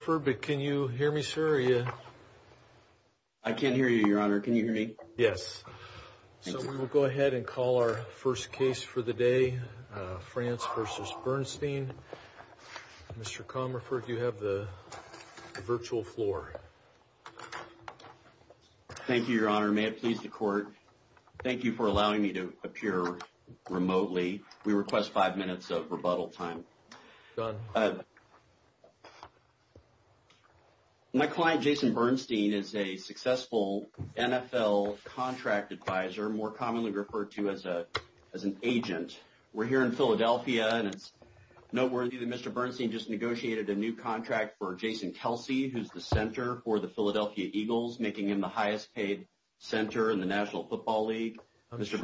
I can't hear you, Your Honor. Can you hear me? Yes. So we'll go ahead and call our first case for the day, France v. Bernstein. Mr. Comerford, you have the virtual floor. Thank you, Your Honor. May it please the Court, thank you for allowing me to appear remotely. We request five minutes of rebuttal time. My client, Jason Bernstein, is a successful NFL contract advisor, more commonly referred to as an agent. We're here in Philadelphia, and it's noteworthy that Mr. Bernstein just negotiated a new contract for Jason Kelsey, who's the center for the Philadelphia Eagles, making him the highest paid center in the National Football League. I'm sure Mr.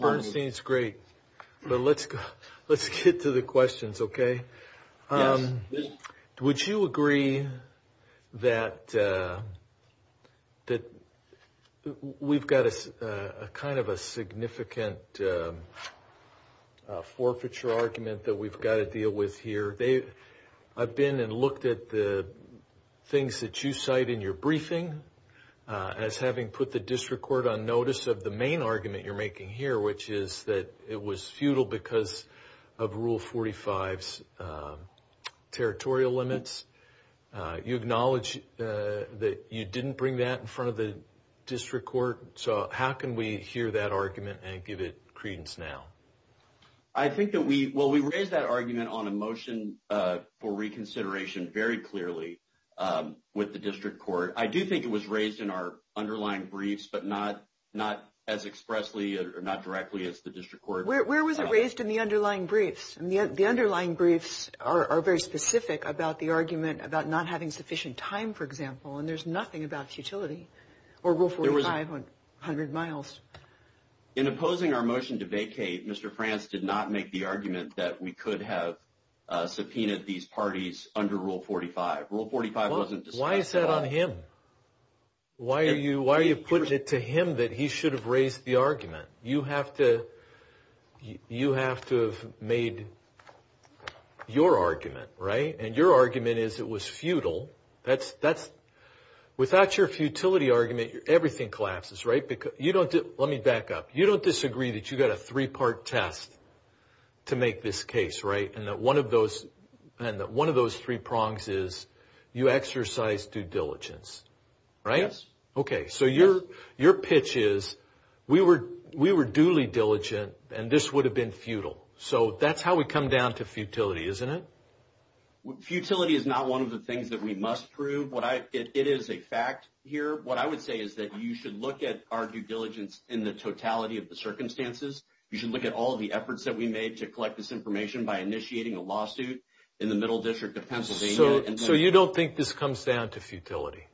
Bernstein's great, but let's get to the questions, okay? Would you agree that we've got kind of a significant forfeiture argument that we've got to deal with here? I've been and looked at the things that you cite in your briefing as having put the district court on notice of the main argument you're making here, which is that it was futile because of Rule 45's territorial limits. You acknowledge that you didn't bring that in front of the district court, so how can we hear that argument and give it credence now? I think that we – well, we raised that argument on a motion for reconsideration very clearly with the district court. I do think it was raised in our underlying briefs, but not as expressly or not directly as the district court. Where was it raised in the underlying briefs? The underlying briefs are very specific about the argument about not having sufficient time, for example, and there's nothing about futility or Rule 45 on 100 miles. In opposing our motion to vacate, Mr. France did not make the argument that we could have subpoenaed these parties under Rule 45. Rule 45 wasn't discussed a lot. Why are you putting it to him that he should have raised the argument? You have to have made your argument, right? And your argument is it was futile. Without your futility argument, everything collapses, right? Let me back up. You don't disagree that you got a three-part test to make this case, right, and that one of those three prongs is you exercised due diligence, right? Yes. Okay, so your pitch is we were duly diligent, and this would have been futile. So that's how we come down to futility, isn't it? Futility is not one of the things that we must prove. It is a fact here. What I would say is that you should look at our due diligence in the totality of the circumstances. You should look at all of the efforts that we made to collect this information by initiating a lawsuit in the Middle District of Pennsylvania. So you don't think this comes down to futility?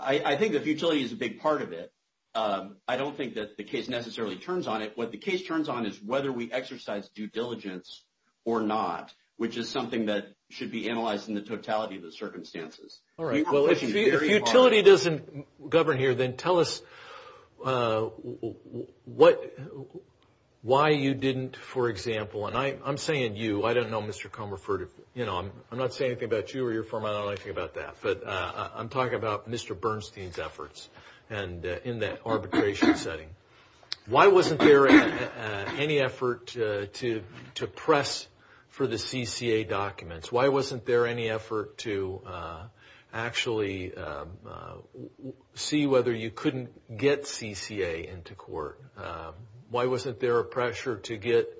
I think that futility is a big part of it. I don't think that the case necessarily turns on it. What the case turns on is whether we exercised due diligence or not, which is something that should be analyzed in the totality of the circumstances. All right, well, if futility doesn't govern here, then tell us why you didn't, for example. And I'm saying you. I don't know, Mr. Comerford. I'm not saying anything about you or your firm. I don't know anything about that. But I'm talking about Mr. Bernstein's efforts in that arbitration setting. Why wasn't there any effort to press for the CCA documents? Why wasn't there any effort to actually see whether you couldn't get CCA into court? Why wasn't there a pressure to get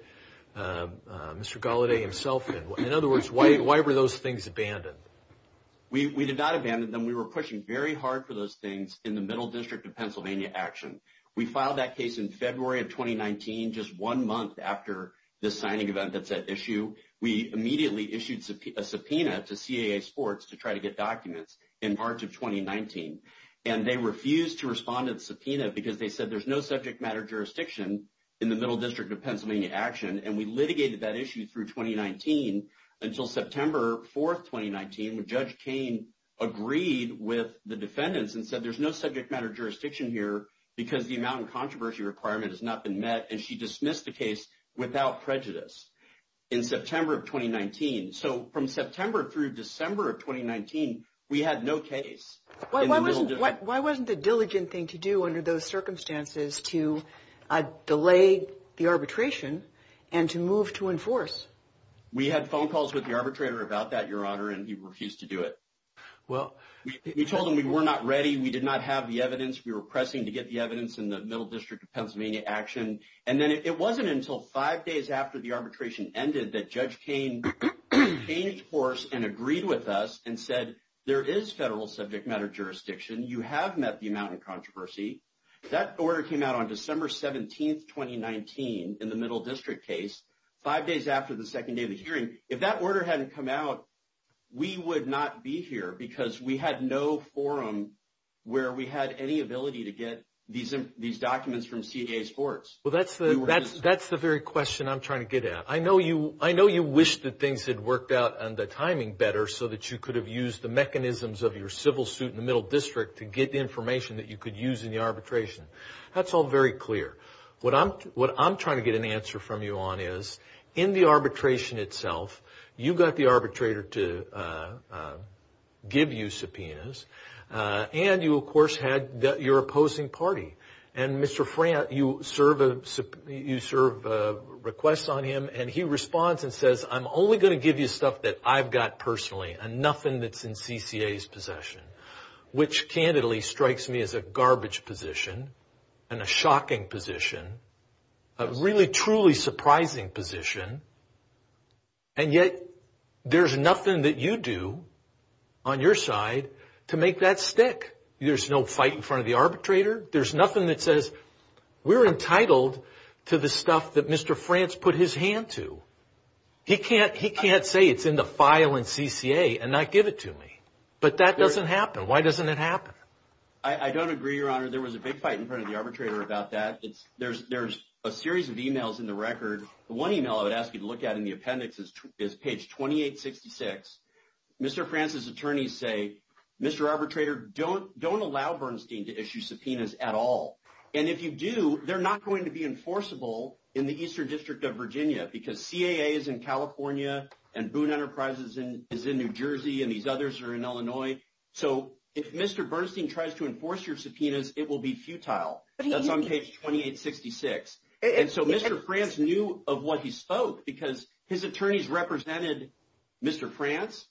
Mr. Galladay himself in? In other words, why were those things abandoned? We did not abandon them. We were pushing very hard for those things in the Middle District of Pennsylvania action. We filed that case in February of 2019, just one month after the signing event that's at issue. We immediately issued a subpoena to CAA Sports to try to get documents in March of 2019. And they refused to respond to the subpoena because they said there's no subject matter jurisdiction in the Middle District of Pennsylvania action. And we litigated that issue through 2019 until September 4th, 2019, when Judge Cain agreed with the defendants and said, there's no subject matter jurisdiction here because the amount of controversy requirement has not been met. And she dismissed the case without prejudice in September of 2019. So from September through December of 2019, we had no case. Why wasn't the diligent thing to do under those circumstances to delay the arbitration and to move to enforce? We had phone calls with the arbitrator about that, Your Honor, and he refused to do it. Well, we told him we were not ready. We did not have the evidence. We were pressing to get the evidence in the Middle District of Pennsylvania action. And then it wasn't until five days after the arbitration ended that Judge Cain changed course and agreed with us and said, there is federal subject matter jurisdiction. You have met the amount of controversy. That order came out on December 17th, 2019, in the Middle District case, five days after the second day of the hearing. If that order hadn't come out, we would not be here because we had no forum where we had any ability to get these documents from CAA Sports. Well, that's the very question I'm trying to get at. I know you wish that things had worked out and the timing better so that you could have used the mechanisms of your civil suit in the Middle District to get information that you could use in the arbitration. That's all very clear. What I'm trying to get an answer from you on is, in the arbitration itself, you got the arbitrator to give you subpoenas. And you, of course, had your opposing party. And Mr. Frantz, you serve a request on him. And he responds and says, I'm only going to give you stuff that I've got personally and nothing that's in CCA's possession, which candidly strikes me as a garbage position and a shocking position, a really, truly surprising position. And yet there's nothing that you do on your side to make that stick. There's no fight in front of the arbitrator. There's nothing that says we're entitled to the stuff that Mr. Frantz put his hand to. He can't say it's in the file in CCA and not give it to me. But that doesn't happen. Why doesn't it happen? I don't agree, Your Honor. There was a big fight in front of the arbitrator about that. There's a series of emails in the record. The one email I would ask you to look at in the appendix is page 2866. Mr. Frantz's attorneys say, Mr. Arbitrator, don't allow Bernstein to issue subpoenas at all. And if you do, they're not going to be enforceable in the Eastern District of Virginia because CAA is in California and Boone Enterprises is in New Jersey. And these others are in Illinois. So if Mr. Bernstein tries to enforce your subpoenas, it will be futile. That's on page 2866. And so Mr. Frantz knew of what he spoke because his attorneys represented Mr. Frantz,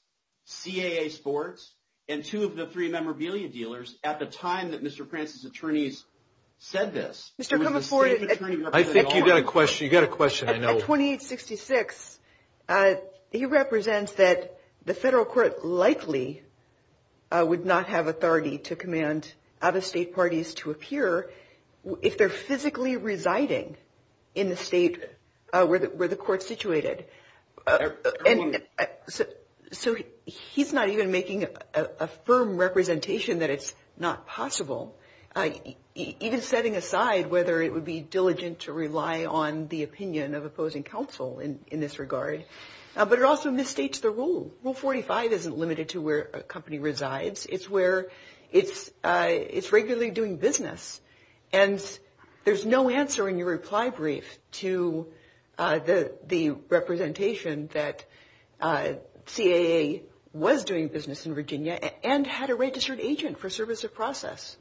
CAA sports, and two of the three memorabilia dealers at the time that Mr. Frantz's attorneys said this. I think you've got a question. You've got a question, I know. On page 2866, he represents that the federal court likely would not have authority to command out-of-state parties to appear if they're physically residing in the state where the court's situated. So he's not even making a firm representation that it's not possible. Even setting aside whether it would be diligent to rely on the opinion of opposing counsel in this regard. But it also misstates the rule. Rule 45 isn't limited to where a company resides. It's where it's regularly doing business. And there's no answer in your reply brief to the representation that CAA was doing business in Virginia and had a registered agent for service of process.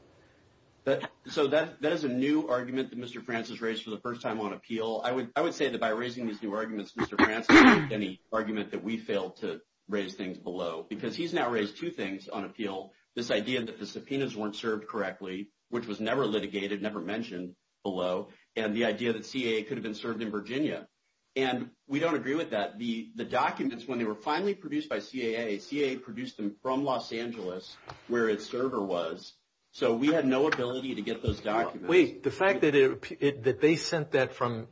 So that is a new argument that Mr. Frantz has raised for the first time on appeal. I would say that by raising these new arguments, Mr. Frantz made any argument that we failed to raise things below. Because he's now raised two things on appeal. This idea that the subpoenas weren't served correctly, which was never litigated, never mentioned below. And the idea that CAA could have been served in Virginia. And we don't agree with that. The documents, when they were finally produced by CAA, CAA produced them from Los Angeles where its server was. So we had no ability to get those documents. Wait. The fact that they sent that from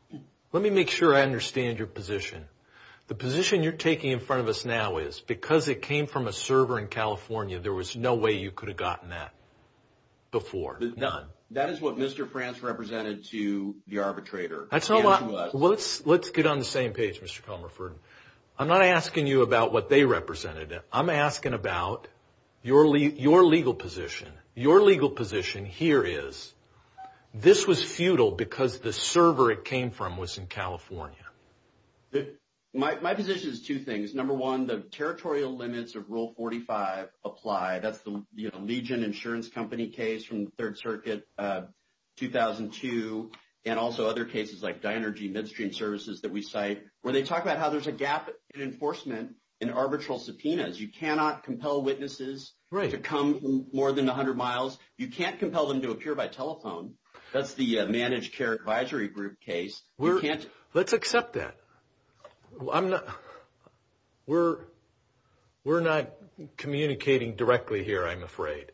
– let me make sure I understand your position. The position you're taking in front of us now is because it came from a server in California, there was no way you could have gotten that before. None. That is what Mr. Frantz represented to the arbitrator. Let's get on the same page, Mr. Comerford. I'm not asking you about what they represented. I'm asking about your legal position. Your legal position here is this was futile because the server it came from was in California. My position is two things. Number one, the territorial limits of Rule 45 apply. That's the Legion Insurance Company case from the Third Circuit, 2002, and also other cases like Dynergy Midstream Services that we cite, where they talk about how there's a gap in enforcement in arbitral subpoenas. You cannot compel witnesses to come more than 100 miles. You can't compel them to appear by telephone. That's the Managed Care Advisory Group case. Let's accept that. We're not communicating directly here, I'm afraid.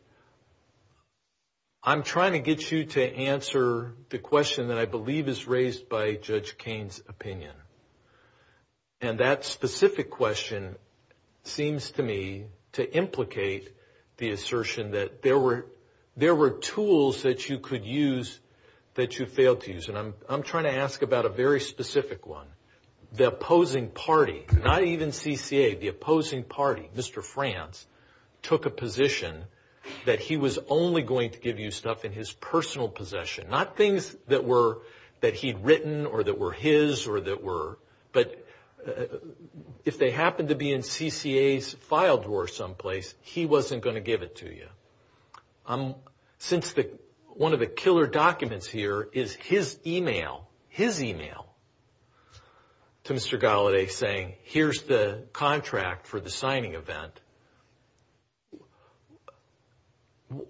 I'm trying to get you to answer the question that I believe is raised by Judge Cain's opinion, and that specific question seems to me to implicate the assertion that there were tools that you could use that you failed to use, and I'm trying to ask about a very specific one. The opposing party, not even CCA, the opposing party, Mr. France, took a position that he was only going to give you stuff in his personal possession, not things that he'd written or that were his or that were, but if they happened to be in CCA's file drawer someplace, he wasn't going to give it to you. Since one of the killer documents here is his email to Mr. Gallaudet saying, here's the contract for the signing event,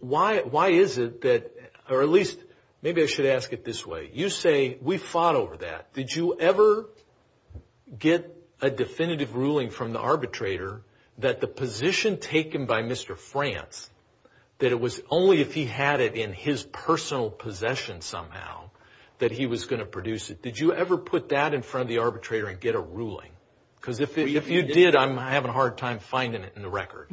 why is it that, or at least maybe I should ask it this way. You say, we fought over that. Did you ever get a definitive ruling from the arbitrator that the position taken by Mr. France, that it was only if he had it in his personal possession somehow that he was going to produce it? Did you ever put that in front of the arbitrator and get a ruling? Because if you did, I'm having a hard time finding it in the record.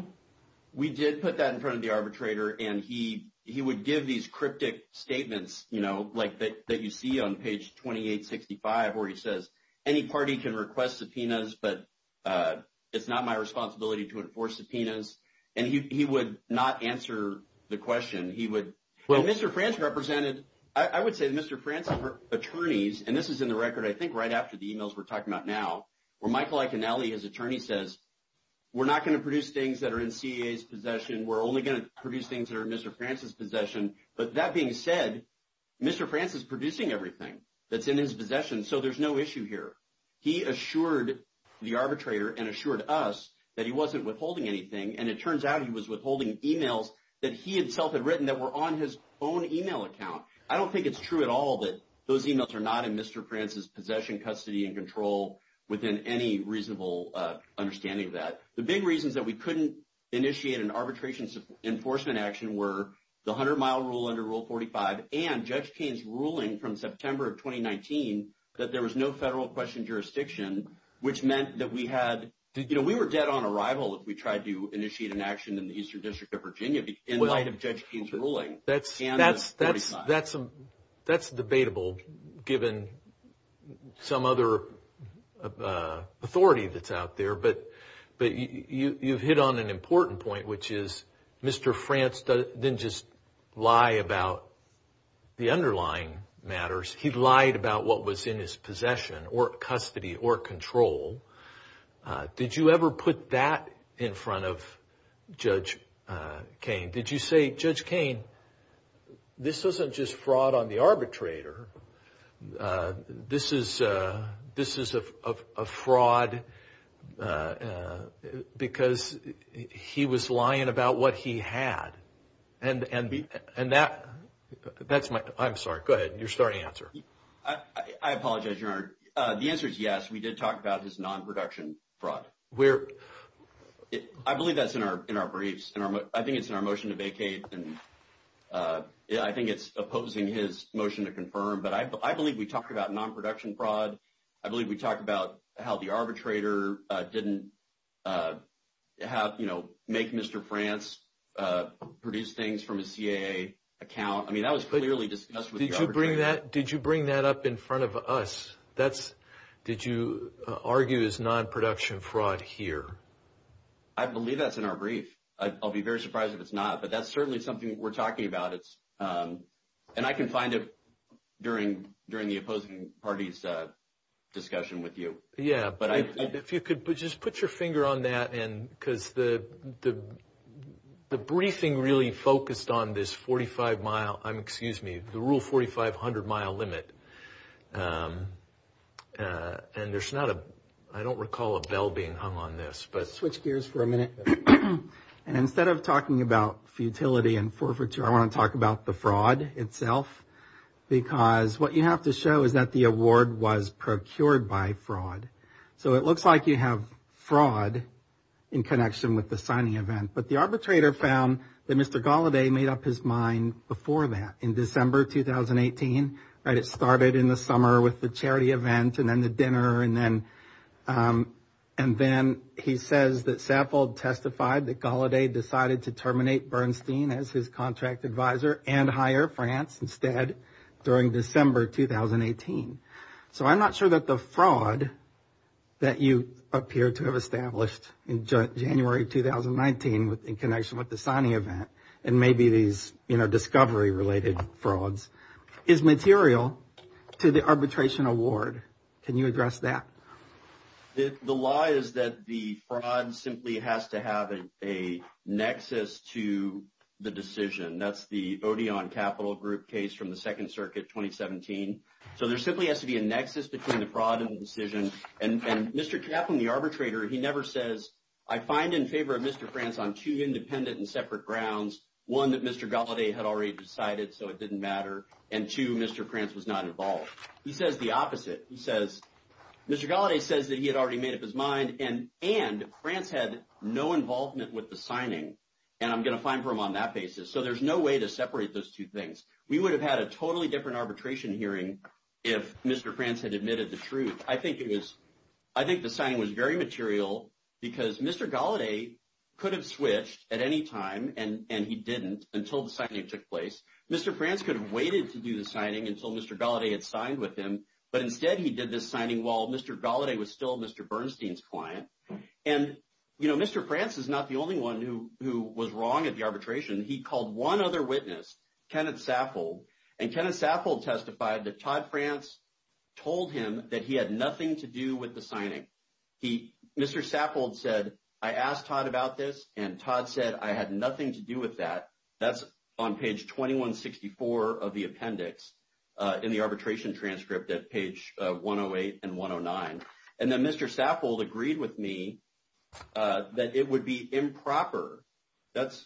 We did put that in front of the arbitrator, and he would give these cryptic statements that you see on page 2865 where he says, any party can request subpoenas, but it's not my responsibility to enforce subpoenas, and he would not answer the question. And Mr. France represented, I would say Mr. France's attorneys, and this is in the record, I think right after the emails we're talking about now, where Michael Iaconelli, his attorney, says, we're not going to produce things that are in CCA's possession. We're only going to produce things that are in Mr. France's possession. But that being said, Mr. France is producing everything that's in his possession, so there's no issue here. He assured the arbitrator and assured us that he wasn't withholding anything, and it turns out he was withholding emails that he himself had written that were on his own email account. I don't think it's true at all that those emails are not in Mr. France's possession, custody, and control within any reasonable understanding of that. The big reasons that we couldn't initiate an arbitration enforcement action were the 100-mile rule under Rule 45 and Judge Keene's ruling from September of 2019 that there was no federal question jurisdiction, which meant that we were dead on arrival if we tried to initiate an action in the Eastern District of Virginia in light of Judge Keene's ruling. That's debatable, given some other authority that's out there, but you've hit on an important point, which is Mr. France didn't just lie about the underlying matters. He lied about what was in his possession or custody or control. Did you ever put that in front of Judge Keene? Did you say, Judge Keene, this isn't just fraud on the arbitrator. This is a fraud because he was lying about what he had. And that's my—I'm sorry, go ahead. Your starting answer. I apologize, Your Honor. The answer is yes, we did talk about his non-production fraud. I believe that's in our briefs. I think it's in our motion to vacate, and I think it's opposing his motion to confirm, but I believe we talked about non-production fraud. I believe we talked about how the arbitrator didn't make Mr. France produce things from a CAA account. I mean, that was clearly discussed with the arbitrator. Did you bring that up in front of us? Did you argue it's non-production fraud here? I believe that's in our brief. I'll be very surprised if it's not, but that's certainly something we're talking about, and I can find it during the opposing party's discussion with you. Yeah, but if you could just put your finger on that, because the briefing really focused on this 45-mile—excuse me, the rule 4,500-mile limit. And there's not a—I don't recall a bell being hung on this, but— Switch gears for a minute. And instead of talking about futility and forfeiture, I want to talk about the fraud itself, because what you have to show is that the award was procured by fraud. So it looks like you have fraud in connection with the signing event, but the arbitrator found that Mr. Gallaudet made up his mind before that. In December 2018, it started in the summer with the charity event and then the dinner, and then he says that Saffold testified that Gallaudet decided to terminate Bernstein as his contract advisor and hire France instead during December 2018. So I'm not sure that the fraud that you appear to have established in January 2019 in connection with the signing event and maybe these discovery-related frauds is material to the arbitration award. Can you address that? The lie is that the fraud simply has to have a nexus to the decision. That's the Odeon Capital Group case from the Second Circuit, 2017. So there simply has to be a nexus between the fraud and the decision. And Mr. Kaplan, the arbitrator, he never says, I find in favor of Mr. France on two independent and separate grounds, one, that Mr. Gallaudet had already decided so it didn't matter, and two, Mr. France was not involved. He says the opposite. He says Mr. Gallaudet says that he had already made up his mind and France had no involvement with the signing, and I'm going to fine for him on that basis. So there's no way to separate those two things. We would have had a totally different arbitration hearing if Mr. France had admitted the truth. I think the signing was very material because Mr. Gallaudet could have switched at any time, and he didn't until the signing took place. Mr. France could have waited to do the signing until Mr. Gallaudet had signed with him, but instead he did this signing while Mr. Gallaudet was still Mr. Bernstein's client. And, you know, Mr. France is not the only one who was wrong at the arbitration. He called one other witness, Kenneth Saffold, and Kenneth Saffold testified that Todd France told him that he had nothing to do with the signing. Mr. Saffold said, I asked Todd about this, and Todd said I had nothing to do with that. That's on page 2164 of the appendix in the arbitration transcript at page 108 and 109. And then Mr. Saffold agreed with me that it would be improper. That's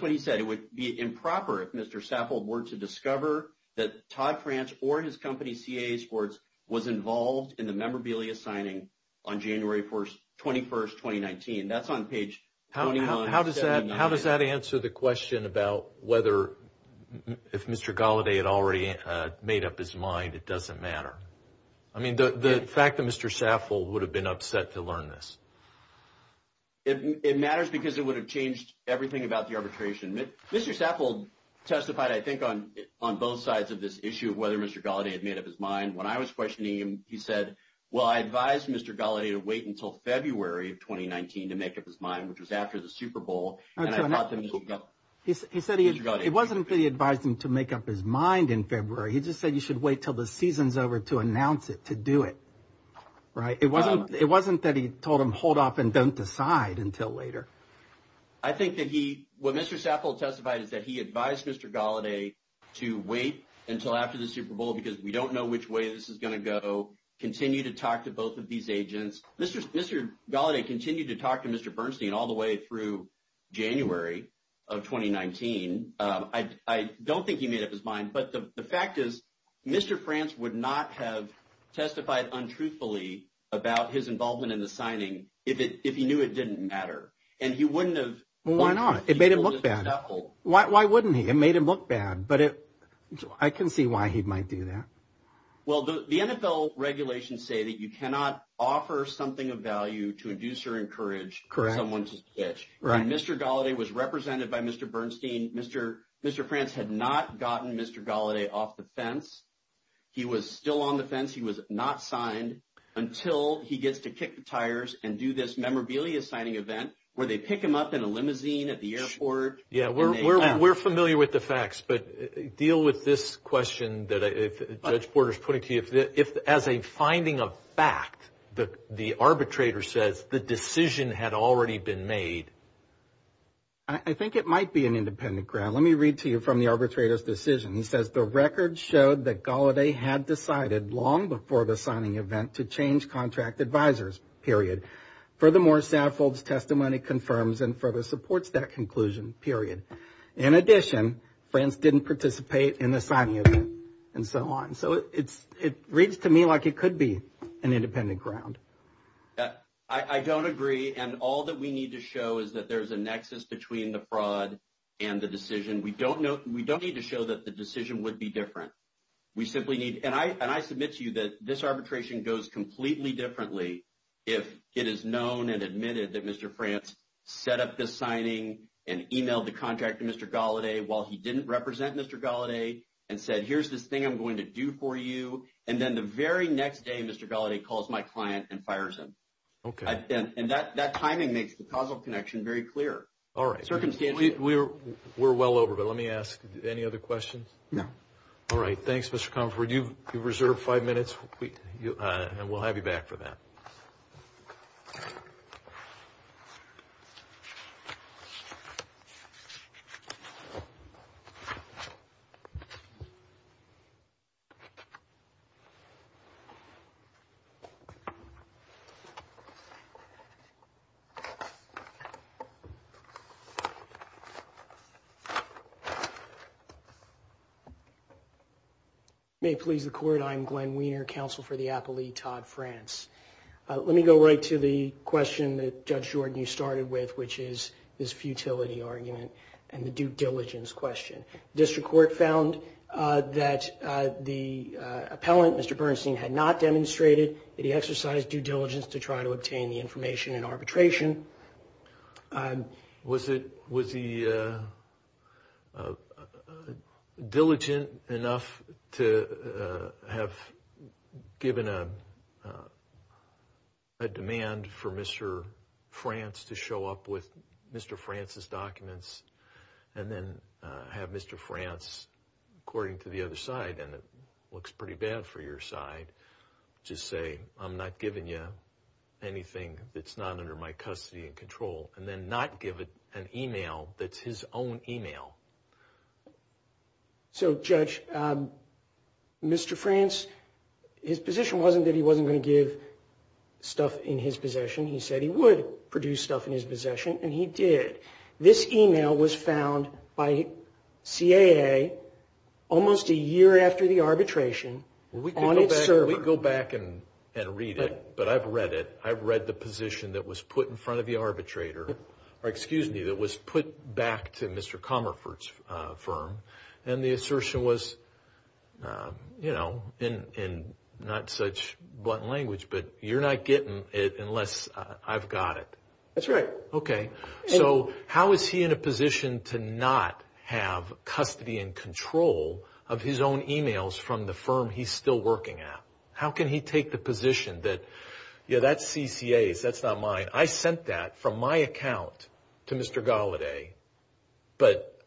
what he said, it would be improper if Mr. Saffold were to discover that Todd France or his company, CAA Sports, was involved in the memorabilia signing on January 21st, 2019. That's on page 2179. How does that answer the question about whether if Mr. Gallaudet had already made up his mind it doesn't matter? I mean, the fact that Mr. Saffold would have been upset to learn this. It matters because it would have changed everything about the arbitration. Mr. Saffold testified, I think, on both sides of this issue of whether Mr. Gallaudet had made up his mind. When I was questioning him, he said, well, I advised Mr. Gallaudet to wait until February of 2019 to make up his mind, which was after the Super Bowl. He said it wasn't that he advised him to make up his mind in February. He just said you should wait until the season's over to announce it, to do it. Right. It wasn't that he told him hold off and don't decide until later. I think that he, what Mr. Saffold testified is that he advised Mr. Gallaudet to wait until after the Super Bowl because we don't know which way this is going to go, continue to talk to both of these agents. Mr. Gallaudet continued to talk to Mr. Bernstein all the way through January of 2019. I don't think he made up his mind. But the fact is, Mr. France would not have testified untruthfully about his involvement in the signing if he knew it didn't matter. And he wouldn't have. Well, why not? It made him look bad. Why wouldn't he? It made him look bad. But I can see why he might do that. Well, the NFL regulations say that you cannot offer something of value to induce or encourage someone to pitch. Right. And Mr. Gallaudet was represented by Mr. Bernstein. Mr. France had not gotten Mr. Gallaudet off the fence. He was still on the fence. He was not signed until he gets to kick the tires and do this memorabilia signing event where they pick him up in a limousine at the airport. Yeah, we're familiar with the facts. But deal with this question that Judge Porter is putting to you. If as a finding of fact, the arbitrator says the decision had already been made. I think it might be an independent ground. Let me read to you from the arbitrator's decision. He says the record showed that Gallaudet had decided long before the signing event to change contract advisers, period. Furthermore, Saffold's testimony confirms and further supports that conclusion, period. In addition, France didn't participate in the signing event and so on. So it reads to me like it could be an independent ground. I don't agree. And all that we need to show is that there's a nexus between the fraud and the decision. We don't need to show that the decision would be different. And I submit to you that this arbitration goes completely differently if it is known and admitted that Mr. France set up this signing and emailed the contract to Mr. Gallaudet while he didn't represent Mr. Gallaudet and said, here's this thing I'm going to do for you. And then the very next day, Mr. Gallaudet calls my client and fires him. Okay. And that timing makes the causal connection very clear. All right. We're well over, but let me ask, any other questions? No. All right. Thanks, Mr. Comfort. You've reserved five minutes, and we'll have you back for that. May it please the Court, I am Glenn Weiner, Counsel for the Appellee, Todd France. Let me go right to the question that Judge Jordan, you started with, which is this futility argument and the due diligence question. District Court found that the appellant, Mr. Bernstein, had not demonstrated that he exercised due diligence to try to obtain the information in arbitration. Was he diligent enough to have given a demand for Mr. France to show up with Mr. France's documents and then have Mr. France, according to the other side, and it looks pretty bad for your side, just say, I'm not giving you anything that's not under my custody and control, and then not give an email that's his own email? So, Judge, Mr. France, his position wasn't that he wasn't going to give stuff in his possession. He said he would produce stuff in his possession, and he did. This email was found by CAA almost a year after the arbitration on its server. We can go back and read it, but I've read it. I've read the position that was put in front of the arbitrator, or excuse me, that was put back to Mr. Comerford's firm, and the assertion was, you know, in not such blunt language, but you're not getting it unless I've got it. That's right. Okay. So how is he in a position to not have custody and control of his own emails from the firm he's still working at? How can he take the position that, you know, that's CCA's, that's not mine. I sent that from my account to Mr. Gallaudet, but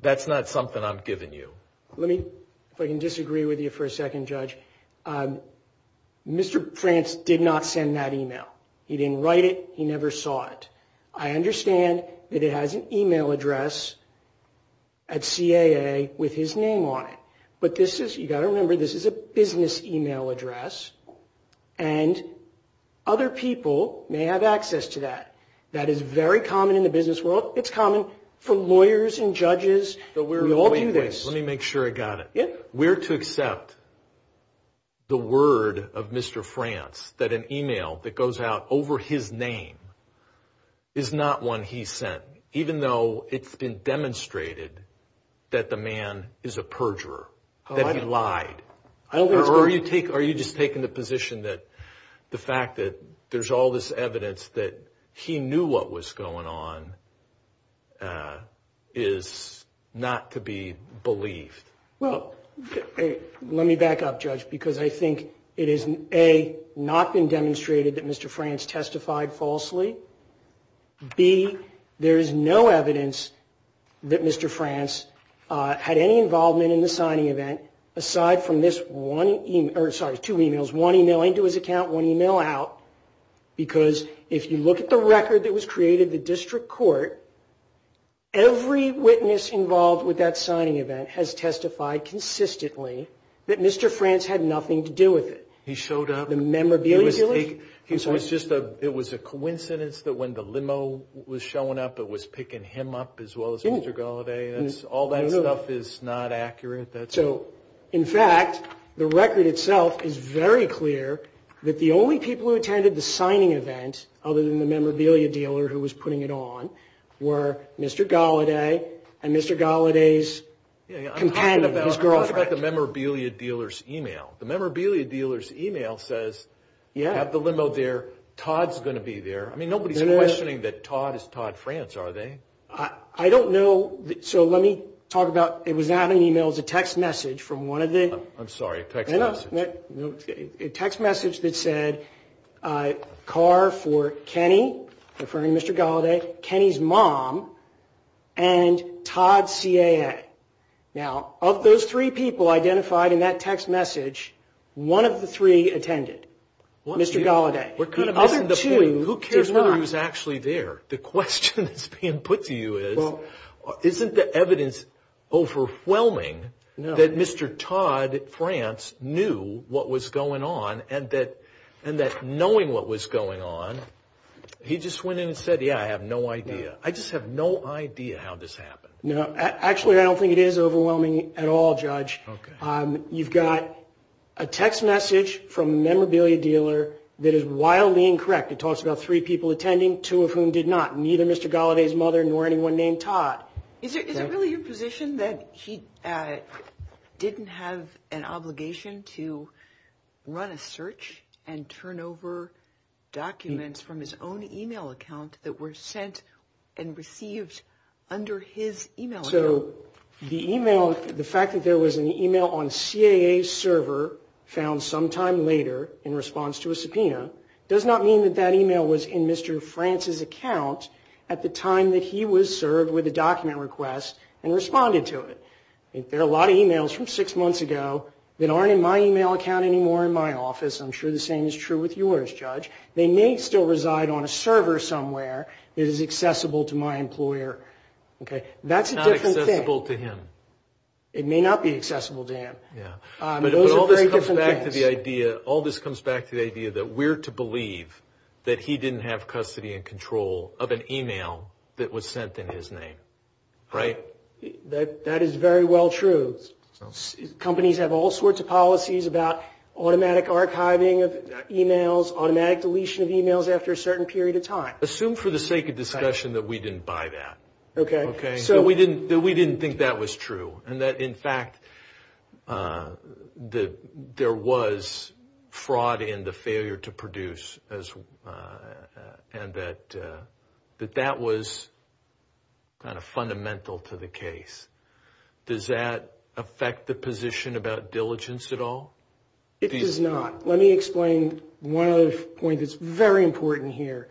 that's not something I'm giving you. Let me, if I can disagree with you for a second, Judge. Mr. France did not send that email. He didn't write it. He never saw it. I understand that it has an email address at CAA with his name on it, but this is, you've got to remember, this is a business email address, and other people may have access to that. That is very common in the business world. It's common for lawyers and judges. We all do this. Wait, wait. Let me make sure I got it. Yeah. Where to accept the word of Mr. France that an email that goes out over his name is not one he sent, even though it's been demonstrated that the man is a perjurer, that he lied? Or are you just taking the position that the fact that there's all this evidence that he knew what was going on is not to be believed? Well, let me back up, Judge, because I think it is, A, not been demonstrated that Mr. France testified falsely. B, there is no evidence that Mr. France had any involvement in the signing event aside from this one, or sorry, two emails, one email into his account, one email out, because if you look at the record that was created at the district court, every witness involved with that signing event has testified consistently that Mr. France had nothing to do with it. He showed up? The memorabilia dealer? I'm sorry. It was a coincidence that when the limo was showing up, it was picking him up as well as Mr. Gallaudet. All that stuff is not accurate. So, in fact, the record itself is very clear that the only people who attended the signing event, other than the memorabilia dealer who was putting it on, were Mr. Gallaudet and Mr. Gallaudet's companion, his girlfriend. I'm talking about the memorabilia dealer's email. The memorabilia dealer's email says, yeah, have the limo there. Todd's going to be there. I mean, nobody's questioning that Todd is Todd France, are they? I don't know. So let me talk about, it was not an email. It was a text message from one of the. I'm sorry, a text message. A text message that said, car for Kenny, referring to Mr. Gallaudet, Kenny's mom, and Todd CAA. Now, of those three people identified in that text message, one of the three attended, Mr. Gallaudet. The other two did not. Who cares whether he was actually there? The question that's being put to you is, isn't the evidence overwhelming that Mr. Todd France knew what was going on, and that knowing what was going on, he just went in and said, yeah, I have no idea. I just have no idea how this happened. No. Actually, I don't think it is overwhelming at all, Judge. You've got a text message from a memorabilia dealer that is wildly incorrect. It talks about three people attending, two of whom did not, neither Mr. Gallaudet's mother nor anyone named Todd. Is it really your position that he didn't have an obligation to run a search and turn over documents from his own email account that were sent and received under his email account? So the email, the fact that there was an email on CAA's server found sometime later in response to a subpoena does not mean that that email was in Mr. France's account at the time that he was served with a document request and responded to it. There are a lot of emails from six months ago that aren't in my email account anymore in my office. I'm sure the same is true with yours, Judge. They may still reside on a server somewhere that is accessible to my employer. That's a different thing. It's not accessible to him. It may not be accessible to him. Those are very different things. All this comes back to the idea that we're to believe that he didn't have custody and control of an email that was sent in his name, right? That is very well true. Companies have all sorts of policies about automatic archiving of emails, automatic deletion of emails after a certain period of time. Assume for the sake of discussion that we didn't buy that. Okay. We didn't think that was true and that, in fact, there was fraud in the failure to produce and that that was kind of fundamental to the case. Does that affect the position about diligence at all? It does not. Let me explain one other point that's very important here.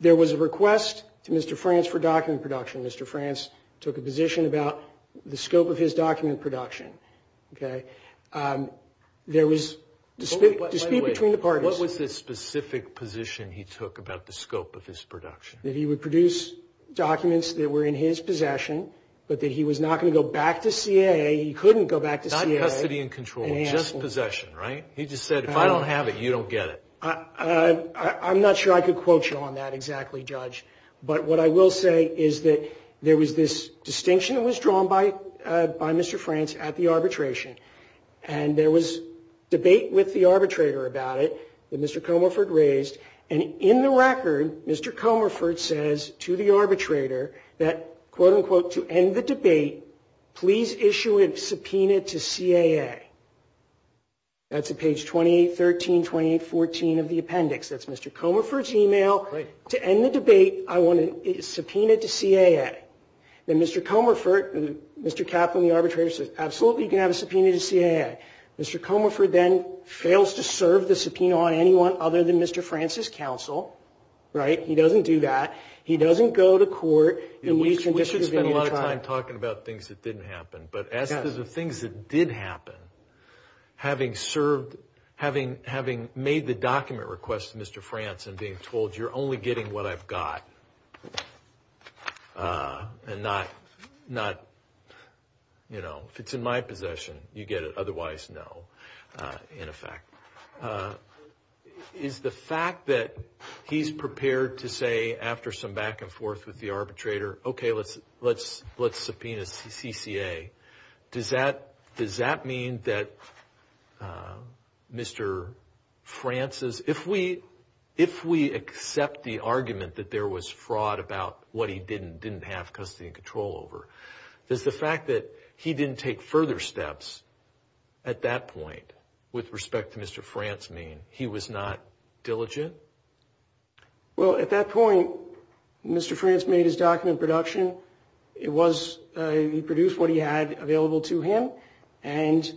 There was a request to Mr. Frantz for document production. Mr. Frantz took a position about the scope of his document production. Okay? There was – to speak between the parties. What was the specific position he took about the scope of his production? That he would produce documents that were in his possession but that he was not going to go back to CAA. He couldn't go back to CAA. Not custody and control, just possession, right? He just said, if I don't have it, you don't get it. I'm not sure I could quote you on that exactly, Judge. But what I will say is that there was this distinction that was drawn by Mr. Frantz at the arbitration. And there was debate with the arbitrator about it that Mr. Comerford raised. And in the record, Mr. Comerford says to the arbitrator that, quote, unquote, to end the debate, please issue a subpoena to CAA. That's at page 28, 13, 28, 14 of the appendix. That's Mr. Comerford's email. To end the debate, I want a subpoena to CAA. And Mr. Comerford – Mr. Kaplan, the arbitrator, says, absolutely, you can have a subpoena to CAA. Mr. Comerford then fails to serve the subpoena on anyone other than Mr. Frantz's counsel. Right? He doesn't do that. He doesn't go to court. We should spend a lot of time talking about things that didn't happen. But as to the things that did happen, having served – having made the document request to Mr. Frantz and being told you're only getting what I've got and not – you know, if it's in my possession, you get it. Otherwise, no, in effect. Is the fact that he's prepared to say, after some back and forth with the arbitrator, okay, let's subpoena CCA, does that mean that Mr. Frantz's – if we accept the argument that there was fraud about what he didn't have custody and control over, does the fact that he didn't take further steps at that point with respect to Mr. Frantz mean he was not diligent? Well, at that point, Mr. Frantz made his document of production. It was – he produced what he had available to him. And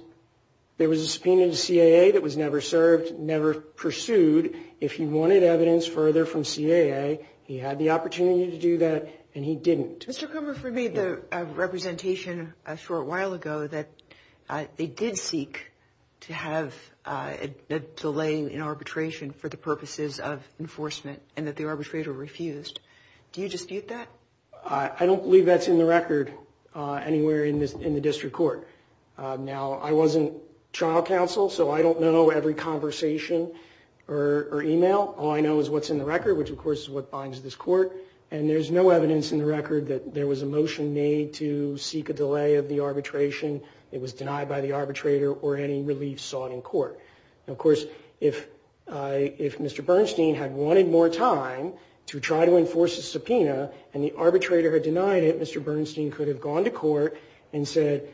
there was a subpoena to CAA that was never served, never pursued. If he wanted evidence further from CAA, he had the opportunity to do that, and he didn't. Mr. Kumher, for me, the representation a short while ago that they did seek to have a delay in arbitration for the purposes of enforcement and that the arbitrator refused. Do you dispute that? I don't believe that's in the record anywhere in the district court. Now, I wasn't trial counsel, so I don't know every conversation or email. All I know is what's in the record, which, of course, is what binds this court. And there's no evidence in the record that there was a motion made to seek a delay of the arbitration. It was denied by the arbitrator or any relief sought in court. Now, of course, if Mr. Bernstein had wanted more time to try to enforce a subpoena and the arbitrator had denied it, Mr. Bernstein could have gone to court and said,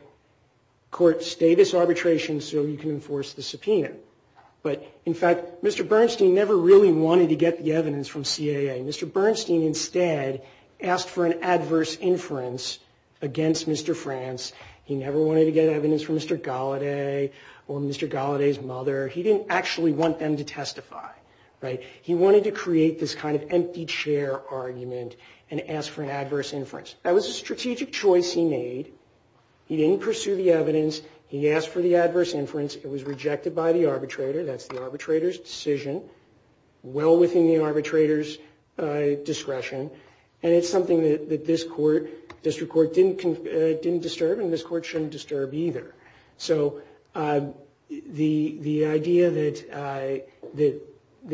court, stay this arbitration so you can enforce the subpoena. But, in fact, Mr. Bernstein never really wanted to get the evidence from CAA. Mr. Bernstein instead asked for an adverse inference against Mr. France. He never wanted to get evidence from Mr. Gallaudet or Mr. Gallaudet's mother. He didn't actually want them to testify. He wanted to create this kind of empty chair argument and ask for an adverse inference. That was a strategic choice he made. He didn't pursue the evidence. He asked for the adverse inference. It was rejected by the arbitrator. That's the arbitrator's decision. Well within the arbitrator's discretion. And it's something that this court, district court, didn't disturb and this court shouldn't disturb either. So the idea that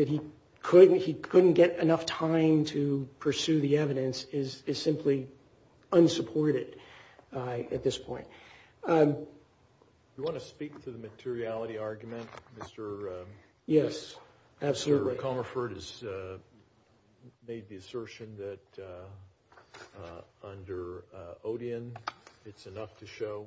he couldn't get enough time to pursue the evidence is simply unsupported at this point. Do you want to speak to the materiality argument, Mr. Bernstein? Yes. Mr. McCommerford has made the assertion that under Odeon it's enough to show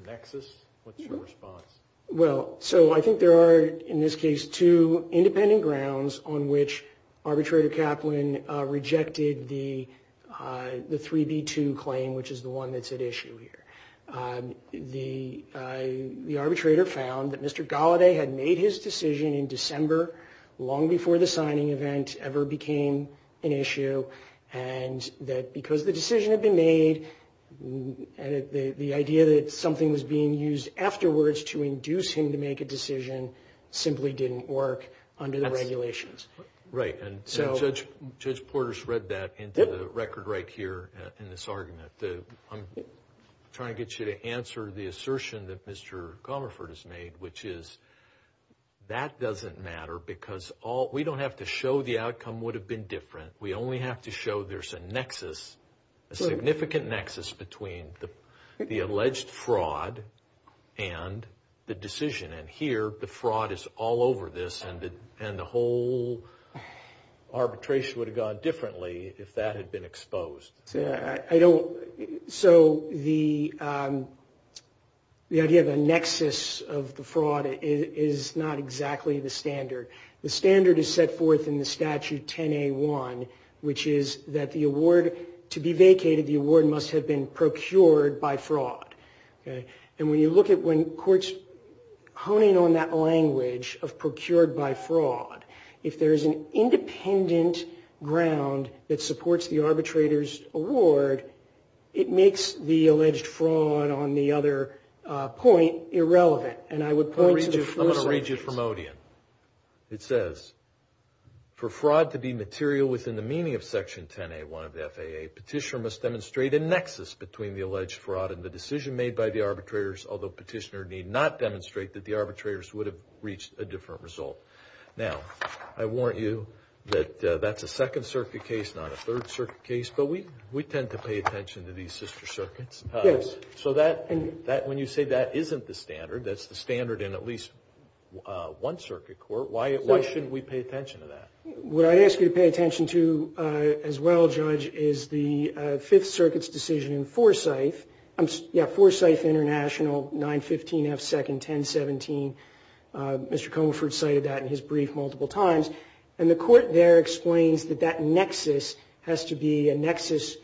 a nexus. What's your response? Well, so I think there are, in this case, two independent grounds on which Arbitrator Kaplan rejected the 3B2 claim, which is the one that's at issue here. The arbitrator found that Mr. Gallaudet had made his decision in December, long before the signing event ever became an issue, and that because the decision had been made, the idea that something was being used afterwards to induce him to make a decision simply didn't work under the regulations. Right. And Judge Porter's read that into the record right here in this argument. I'm trying to get you to answer the assertion that Mr. Commerford has made, which is that doesn't matter because we don't have to show the outcome would have been different. We only have to show there's a nexus, a significant nexus, between the alleged fraud and the decision. And here the fraud is all over this, and the whole arbitration would have gone differently if that had been exposed. So the idea of a nexus of the fraud is not exactly the standard. The standard is set forth in the Statute 10A1, which is that the award to be vacated, the award must have been procured by fraud. And when you look at when courts honing on that language of procured by fraud, if there is an independent ground that supports the arbitrator's award, it makes the alleged fraud on the other point irrelevant. And I would point to the full sentence. I'm going to read you from Odeon. It says, For fraud to be material within the meaning of Section 10A1 of the FAA, petitioner must demonstrate a nexus between the alleged fraud and the decision made by the arbitrators, although petitioner need not demonstrate that the arbitrators would have reached a different result. Now, I warrant you that that's a Second Circuit case, not a Third Circuit case, but we tend to pay attention to these sister circuits. Yes. So when you say that isn't the standard, that's the standard in at least one circuit court, why shouldn't we pay attention to that? What I ask you to pay attention to as well, Judge, is the Fifth Circuit's decision in Forsyth, 915 F. Second, 1017. Mr. Comerford cited that in his brief multiple times. And the court there explains that that nexus has to be a nexus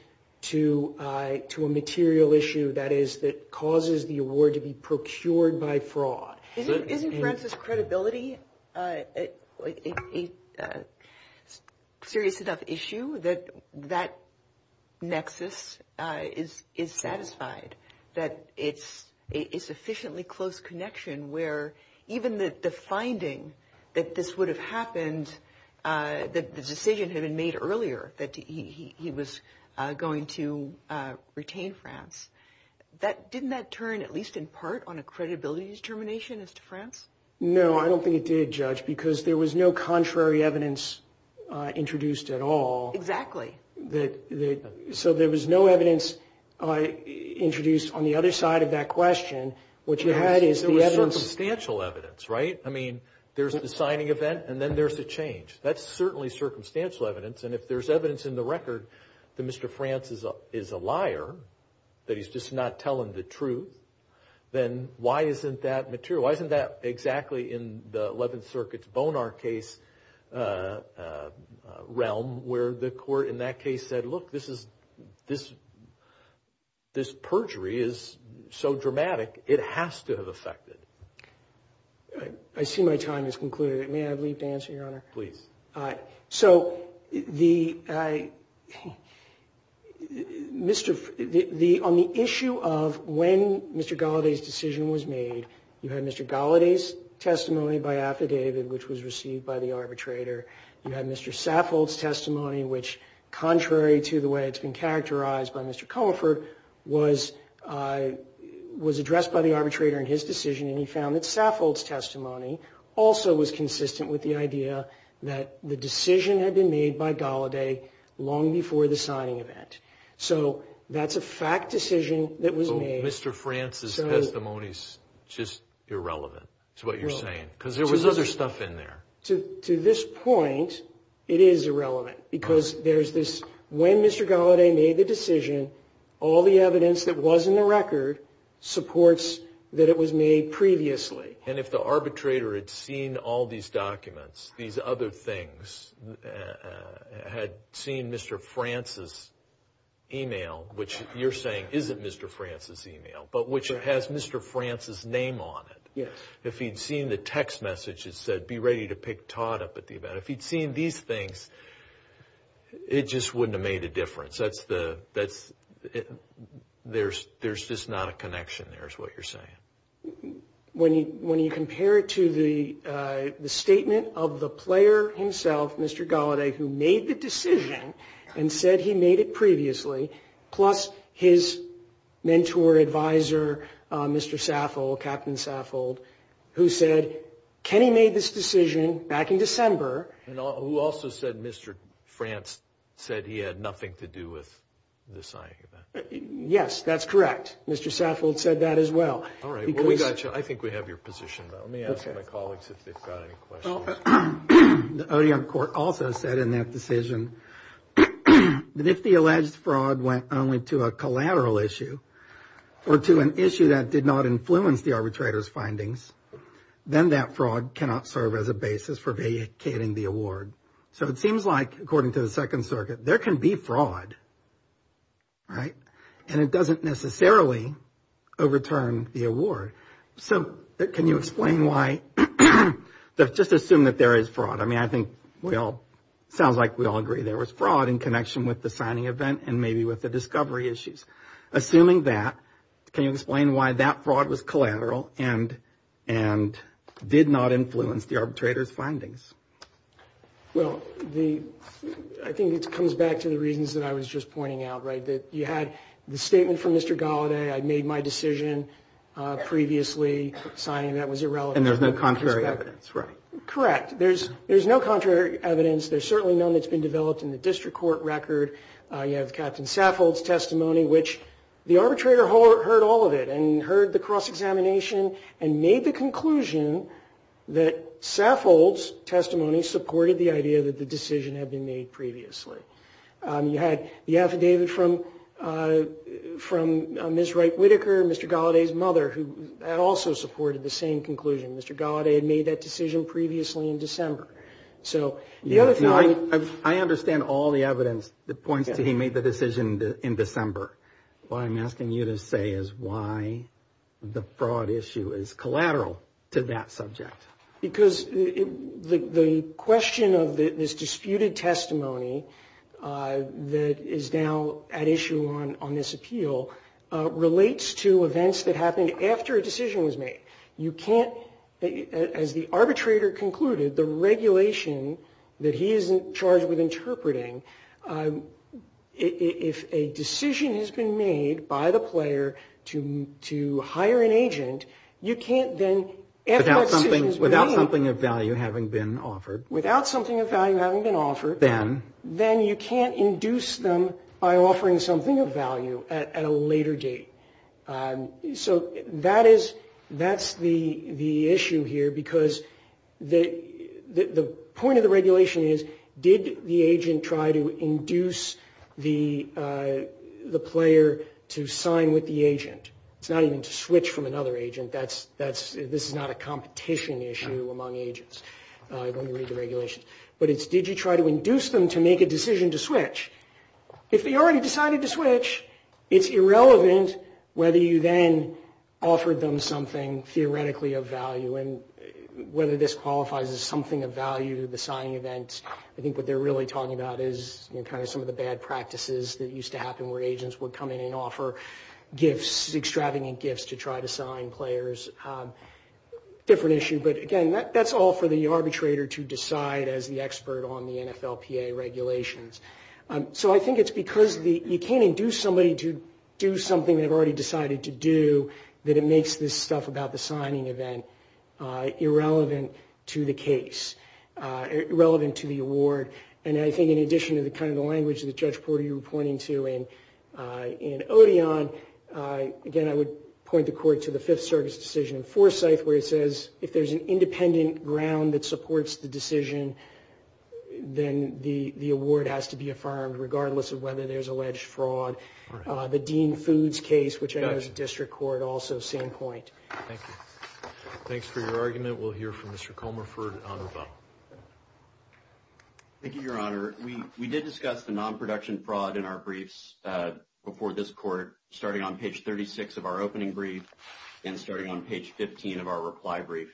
to a material issue, that is, that causes the award to be procured by fraud. Isn't, for instance, credibility a serious enough issue that that nexus is satisfied, that it's a sufficiently close connection where even the finding that this would have happened, that the decision had been made earlier that he was going to retain France, didn't that turn at least in part on a credibility determination as to France? No, I don't think it did, Judge, because there was no contrary evidence introduced at all. Exactly. So there was no evidence introduced on the other side of that question. What you had is the evidence. There was circumstantial evidence, right? I mean, there's the signing event and then there's the change. That's certainly circumstantial evidence. And if there's evidence in the record that Mr. France is a liar, that he's just not telling the truth, then why isn't that material? Why isn't that exactly in the Eleventh Circuit's Bonar case realm where the court in that case said, look, this perjury is so dramatic, it has to have affected. I see my time has concluded. May I have a brief answer, Your Honor? Please. So on the issue of when Mr. Gallaudet's decision was made, you had Mr. Gallaudet's testimony by affidavit, which was received by the arbitrator. You had Mr. Saffold's testimony, which, contrary to the way it's been characterized by Mr. Comerford, was addressed by the arbitrator in his decision, and he found that Saffold's testimony also was consistent with the idea that the decision had been made by Gallaudet long before the signing event. So that's a fact decision that was made. So Mr. France's testimony is just irrelevant to what you're saying because there was other stuff in there. To this point, it is irrelevant because there's this when Mr. Gallaudet made the decision, all the evidence that was in the record supports that it was made previously. And if the arbitrator had seen all these documents, these other things, had seen Mr. France's e-mail, which you're saying isn't Mr. France's e-mail, but which has Mr. France's name on it, if he'd seen the text messages that said, be ready to pick Todd up at the event, if he'd seen these things, it just wouldn't have made a difference. There's just not a connection there is what you're saying. When you compare it to the statement of the player himself, Mr. Gallaudet, who made the decision and said he made it previously, plus his mentor, advisor, Mr. Saffold, Captain Saffold, who said, Kenny made this decision back in December. And who also said Mr. France said he had nothing to do with the signing of that. Yes, that's correct. Mr. Saffold said that as well. All right. Well, we got you. I think we have your position, though. Let me ask my colleagues if they've got any questions. The OEM court also said in that decision that if the alleged fraud went only to a collateral issue then that fraud cannot serve as a basis for vacating the award. So it seems like, according to the Second Circuit, there can be fraud, right? And it doesn't necessarily overturn the award. So can you explain why? Just assume that there is fraud. I mean, I think we all sounds like we all agree there was fraud in connection with the signing event and maybe with the discovery issues. Assuming that, can you explain why that fraud was collateral and did not influence the arbitrator's findings? Well, I think it comes back to the reasons that I was just pointing out, right? That you had the statement from Mr. Gallaudet, I made my decision previously, signing that was irrelevant. And there's no contrary evidence, right? Correct. There's no contrary evidence. There's certainly none that's been developed in the district court record. You have Captain Saffold's testimony, which the arbitrator heard all of it and heard the cross-examination and made the conclusion that Saffold's testimony supported the idea that the decision had been made previously. You had the affidavit from Ms. Wright Whitaker, Mr. Gallaudet's mother, who had also supported the same conclusion. Mr. Gallaudet had made that decision previously in December. I understand all the evidence that points to he made the decision in December. What I'm asking you to say is why the fraud issue is collateral to that subject. Because the question of this disputed testimony that is now at issue on this appeal relates to events that happened after a decision was made. You can't, as the arbitrator concluded, the regulation that he is in charge with interpreting, if a decision has been made by the player to hire an agent, you can't then effort to Without something of value having been offered. Without something of value having been offered. Then. Then you can't induce them by offering something of value at a later date. So that's the issue here because the point of the regulation is, did the agent try to induce the player to sign with the agent? It's not even to switch from another agent. This is not a competition issue among agents when you read the regulations. But it's did you try to induce them to make a decision to switch? If they already decided to switch, it's irrelevant whether you then offered them something theoretically of value and whether this qualifies as something of value to the signing event. I think what they're really talking about is kind of some of the bad practices that used to happen where agents would come in and offer gifts, extravagant gifts, to try to sign players. Different issue. But again, that's all for the arbitrator to decide as the expert on the NFLPA regulations. So I think it's because you can't induce somebody to do something they've already decided to do, that it makes this stuff about the signing event irrelevant to the case, irrelevant to the award. And I think in addition to kind of the language that Judge Porter you were pointing to in Odeon, again, I would point the court to the Fifth Circuit's decision in Forsyth where it says, if there's an independent ground that supports the decision, then the award has to be affirmed regardless of whether there's alleged fraud. The Dean Foods case, which I know is a district court, also same point. Thank you. Thanks for your argument. We'll hear from Mr. Comerford on the phone. Thank you, Your Honor. Your Honor, we did discuss the non-production fraud in our briefs before this court, starting on page 36 of our opening brief and starting on page 15 of our reply brief.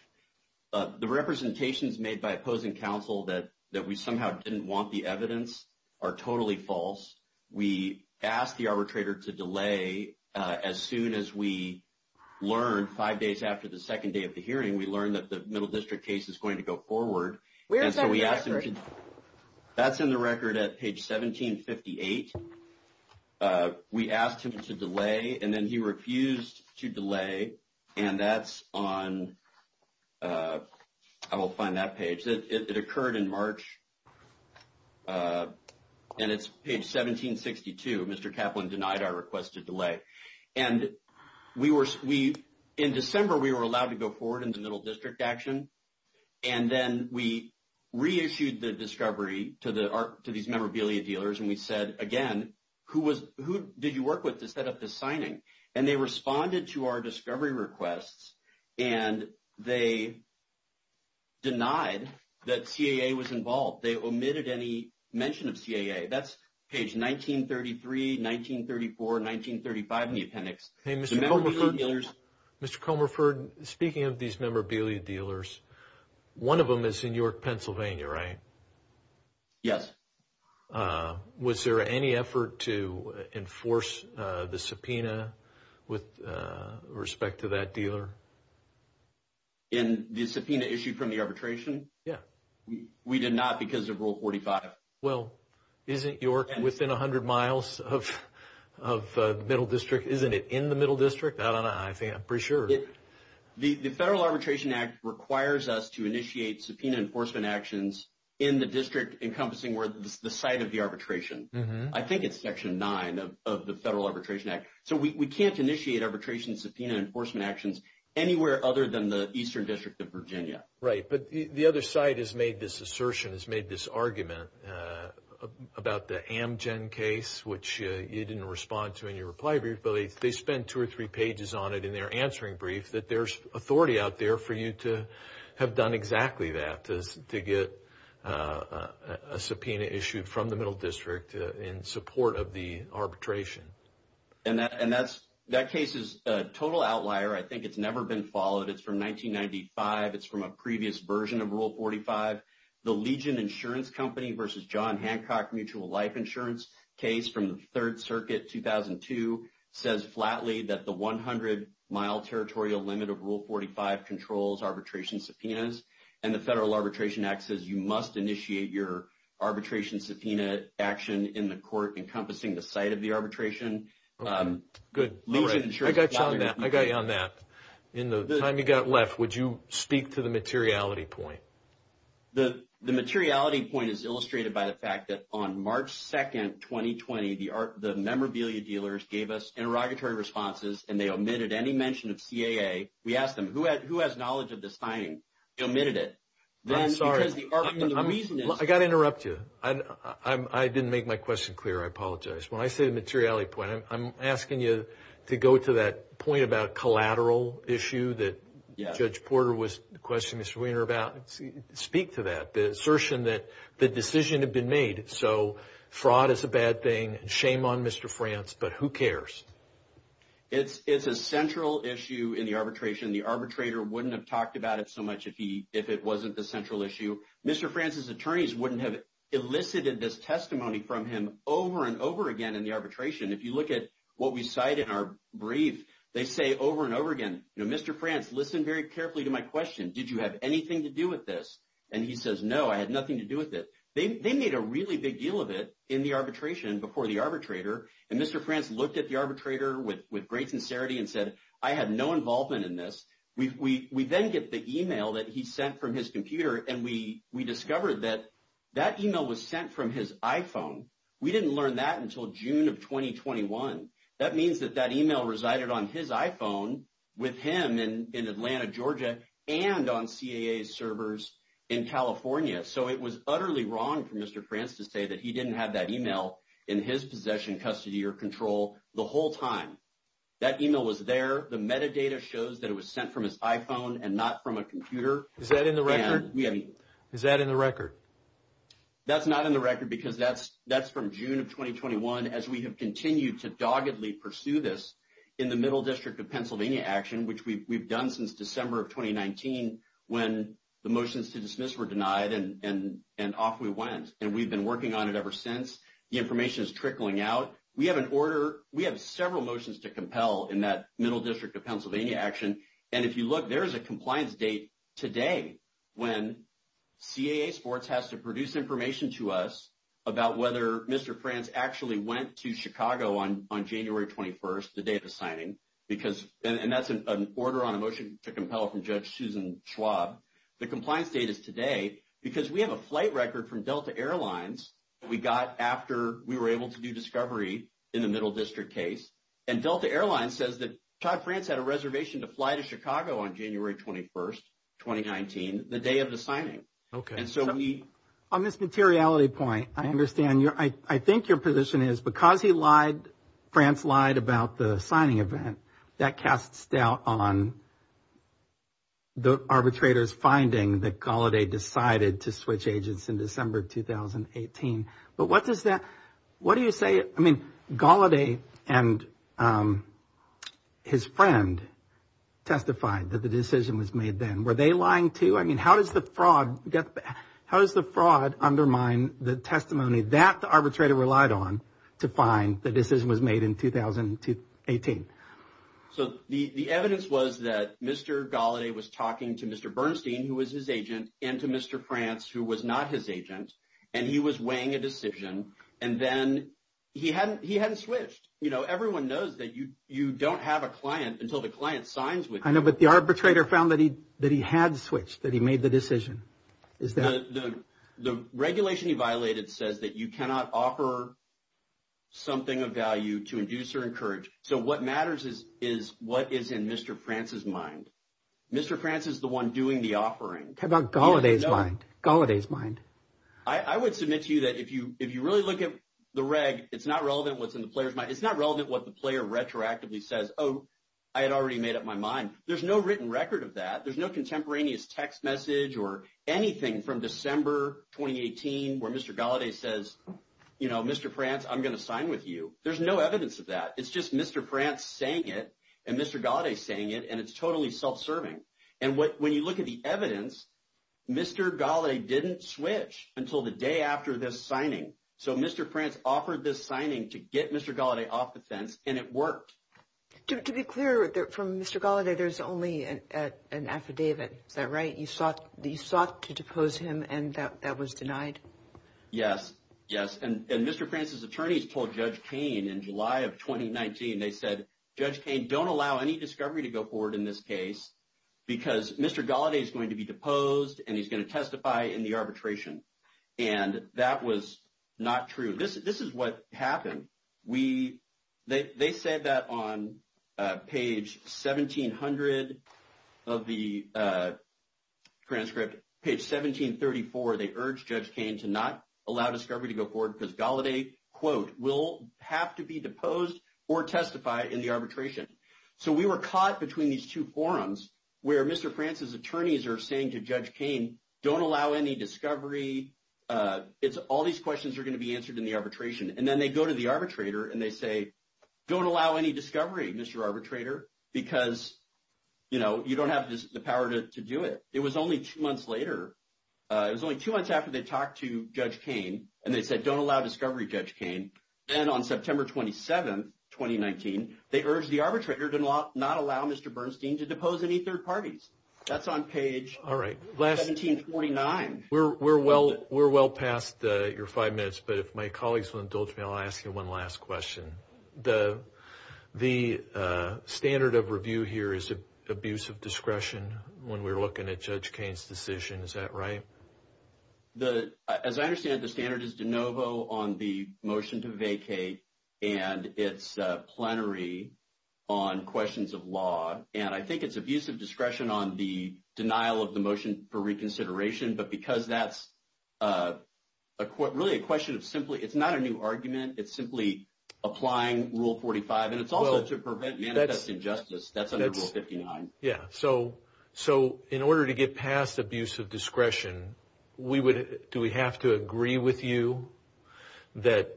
The representations made by opposing counsel that we somehow didn't want the evidence are totally false. We asked the arbitrator to delay. As soon as we learned five days after the second day of the hearing, we learned that the Middle District case is going to go forward. Where's that record? That's in the record at page 1758. We asked him to delay, and then he refused to delay. And that's on, I will find that page. It occurred in March, and it's page 1762. Mr. Kaplan denied our request to delay. And in December, we were allowed to go forward in the Middle District action, and then we reissued the discovery to these memorabilia dealers, and we said, again, who did you work with to set up this signing? And they responded to our discovery requests, and they denied that CAA was involved. They omitted any mention of CAA. That's page 1933, 1934, 1935 in the appendix. Mr. Comerford, speaking of these memorabilia dealers, one of them is in York, Pennsylvania, right? Yes. Was there any effort to enforce the subpoena with respect to that dealer? In the subpoena issued from the arbitration? Yeah. We did not because of Rule 45. Well, isn't York within 100 miles of the Middle District? Isn't it in the Middle District? I don't know. I think I'm pretty sure. The Federal Arbitration Act requires us to initiate subpoena enforcement actions in the district encompassing the site of the arbitration. I think it's Section 9 of the Federal Arbitration Act. So we can't initiate arbitration subpoena enforcement actions anywhere other than the Eastern District of Virginia. Right. But the other side has made this assertion, has made this argument about the Amgen case, which you didn't respond to in your reply brief, but they spent two or three pages on it in their answering brief that there's authority out there for you to have done exactly that, to get a subpoena issued from the Middle District in support of the arbitration. And that case is a total outlier. I think it's never been followed. It's from 1995. It's from a previous version of Rule 45. The Legion Insurance Company versus John Hancock Mutual Life Insurance case from the Third Circuit, 2002, says flatly that the 100-mile territorial limit of Rule 45 controls arbitration subpoenas. And the Federal Arbitration Act says you must initiate your arbitration subpoena action in the court encompassing the site of the arbitration. Good. I got you on that. In the time you've got left, would you speak to the materiality point? The materiality point is illustrated by the fact that on March 2nd, 2020, the memorabilia dealers gave us interrogatory responses and they omitted any mention of CAA. We asked them, who has knowledge of this signing? They omitted it. I'm sorry. Because the reason is – I've got to interrupt you. I didn't make my question clear. I apologize. When I say the materiality point, I'm asking you to go to that point about collateral issue that Judge Porter was questioning Mr. Weiner about. Speak to that, the assertion that the decision had been made. So fraud is a bad thing, shame on Mr. France, but who cares? It's a central issue in the arbitration. The arbitrator wouldn't have talked about it so much if it wasn't the central issue. Mr. France's attorneys wouldn't have elicited this testimony from him over and over again in the arbitration. If you look at what we cite in our brief, they say over and over again, Mr. France, listen very carefully to my question. Did you have anything to do with this? And he says, no, I had nothing to do with it. They made a really big deal of it in the arbitration before the arbitrator. And Mr. France looked at the arbitrator with great sincerity and said, I had no involvement in this. We then get the e-mail that he sent from his computer, and we discovered that that e-mail was sent from his iPhone. We didn't learn that until June of 2021. That means that that e-mail resided on his iPhone with him in Atlanta, Georgia, and on CAA's servers in California. So it was utterly wrong for Mr. France to say that he didn't have that e-mail in his possession, custody, or control the whole time. That e-mail was there. The metadata shows that it was sent from his iPhone and not from a computer. Is that in the record? Is that in the record? That's not in the record because that's from June of 2021, as we have continued to doggedly pursue this in the Middle District of Pennsylvania action, which we've done since December of 2019 when the motions to dismiss were denied, and off we went. And we've been working on it ever since. The information is trickling out. We have an order. We have several motions to compel in that Middle District of Pennsylvania action, and if you look, there is a compliance date today when CAA Sports has to produce information to us about whether Mr. France actually went to Chicago on January 21st, the day of the signing, and that's an order on a motion to compel from Judge Susan Schwab. The compliance date is today because we have a flight record from Delta Air Lines we got after we were able to do discovery in the Middle District case, and Delta Air Lines says that Todd France had a reservation to fly to Chicago on January 21st, 2019, the day of the signing. On this materiality point, I understand, I think your position is because he lied, France lied about the signing event, that casts doubt on the arbitrator's finding that Gallaudet decided to switch agents in December of 2018. But what does that, what do you say, I mean, Gallaudet and his friend testified that the decision was made then. Were they lying too? I mean, how does the fraud undermine the testimony that the arbitrator relied on to find the decision was made in 2018? So the evidence was that Mr. Gallaudet was talking to Mr. Bernstein, who was his agent, and to Mr. France, who was not his agent, and he was weighing a decision, and then he hadn't switched. You know, everyone knows that you don't have a client until the client signs with you. I know, but the arbitrator found that he had switched, that he made the decision. The regulation he violated says that you cannot offer something of value to induce or encourage. So what matters is what is in Mr. France's mind. Mr. France is the one doing the offering. How about Gallaudet's mind? Gallaudet's mind. I would submit to you that if you really look at the reg, it's not relevant what's in the player's mind. There's no written record of that. There's no contemporaneous text message or anything from December 2018 where Mr. Gallaudet says, you know, Mr. France, I'm going to sign with you. There's no evidence of that. It's just Mr. France saying it and Mr. Gallaudet saying it, and it's totally self-serving. And when you look at the evidence, Mr. Gallaudet didn't switch until the day after this signing. So Mr. France offered this signing to get Mr. Gallaudet off the fence, and it worked. To be clear, from Mr. Gallaudet, there's only an affidavit. Is that right? You sought to depose him, and that was denied? Yes. Yes. And Mr. France's attorneys told Judge Kain in July of 2019, they said, Judge Kain, don't allow any discovery to go forward in this case because Mr. Gallaudet is going to be deposed, and he's going to testify in the arbitration. And that was not true. This is what happened. They said that on page 1700 of the transcript, page 1734, they urged Judge Kain to not allow discovery to go forward because Gallaudet, quote, will have to be deposed or testify in the arbitration. So we were caught between these two forums where Mr. France's attorneys are saying to Judge Kain, don't allow any discovery. All these questions are going to be answered in the arbitration. And then they go to the arbitrator and they say, don't allow any discovery, Mr. Arbitrator, because you don't have the power to do it. It was only two months later. It was only two months after they talked to Judge Kain, and they said, don't allow discovery, Judge Kain. And on September 27, 2019, they urged the arbitrator to not allow Mr. Bernstein to depose any third parties. That's on page 1749. We're well past your five minutes, but if my colleagues will indulge me, I'll ask you one last question. The standard of review here is abuse of discretion when we're looking at Judge Kain's decision. Is that right? As I understand it, the standard is de novo on the motion to vacate and it's plenary on questions of law. And I think it's abuse of discretion on the denial of the motion for reconsideration. But because that's really a question of simply it's not a new argument, it's simply applying Rule 45. And it's also to prevent manifesting justice. That's under Rule 59. Yeah. So in order to get past abuse of discretion, do we have to agree with you that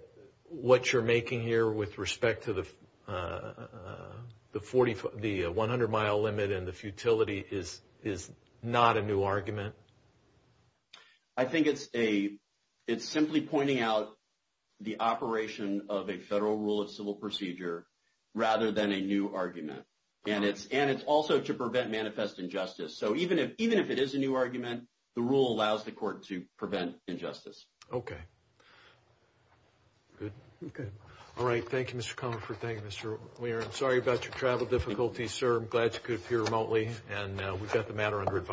what you're making here with respect to the 100-mile limit and the futility is not a new argument? I think it's simply pointing out the operation of a federal rule of civil procedure rather than a new argument. And it's also to prevent manifest injustice. So even if it is a new argument, the rule allows the court to prevent injustice. Okay. Good? Good. All right. Thank you, Mr. Comerford. Thank you, Mr. Weir. I'm sorry about your travel difficulties, sir. I'm glad you could appear remotely. And we've got the matter under advice.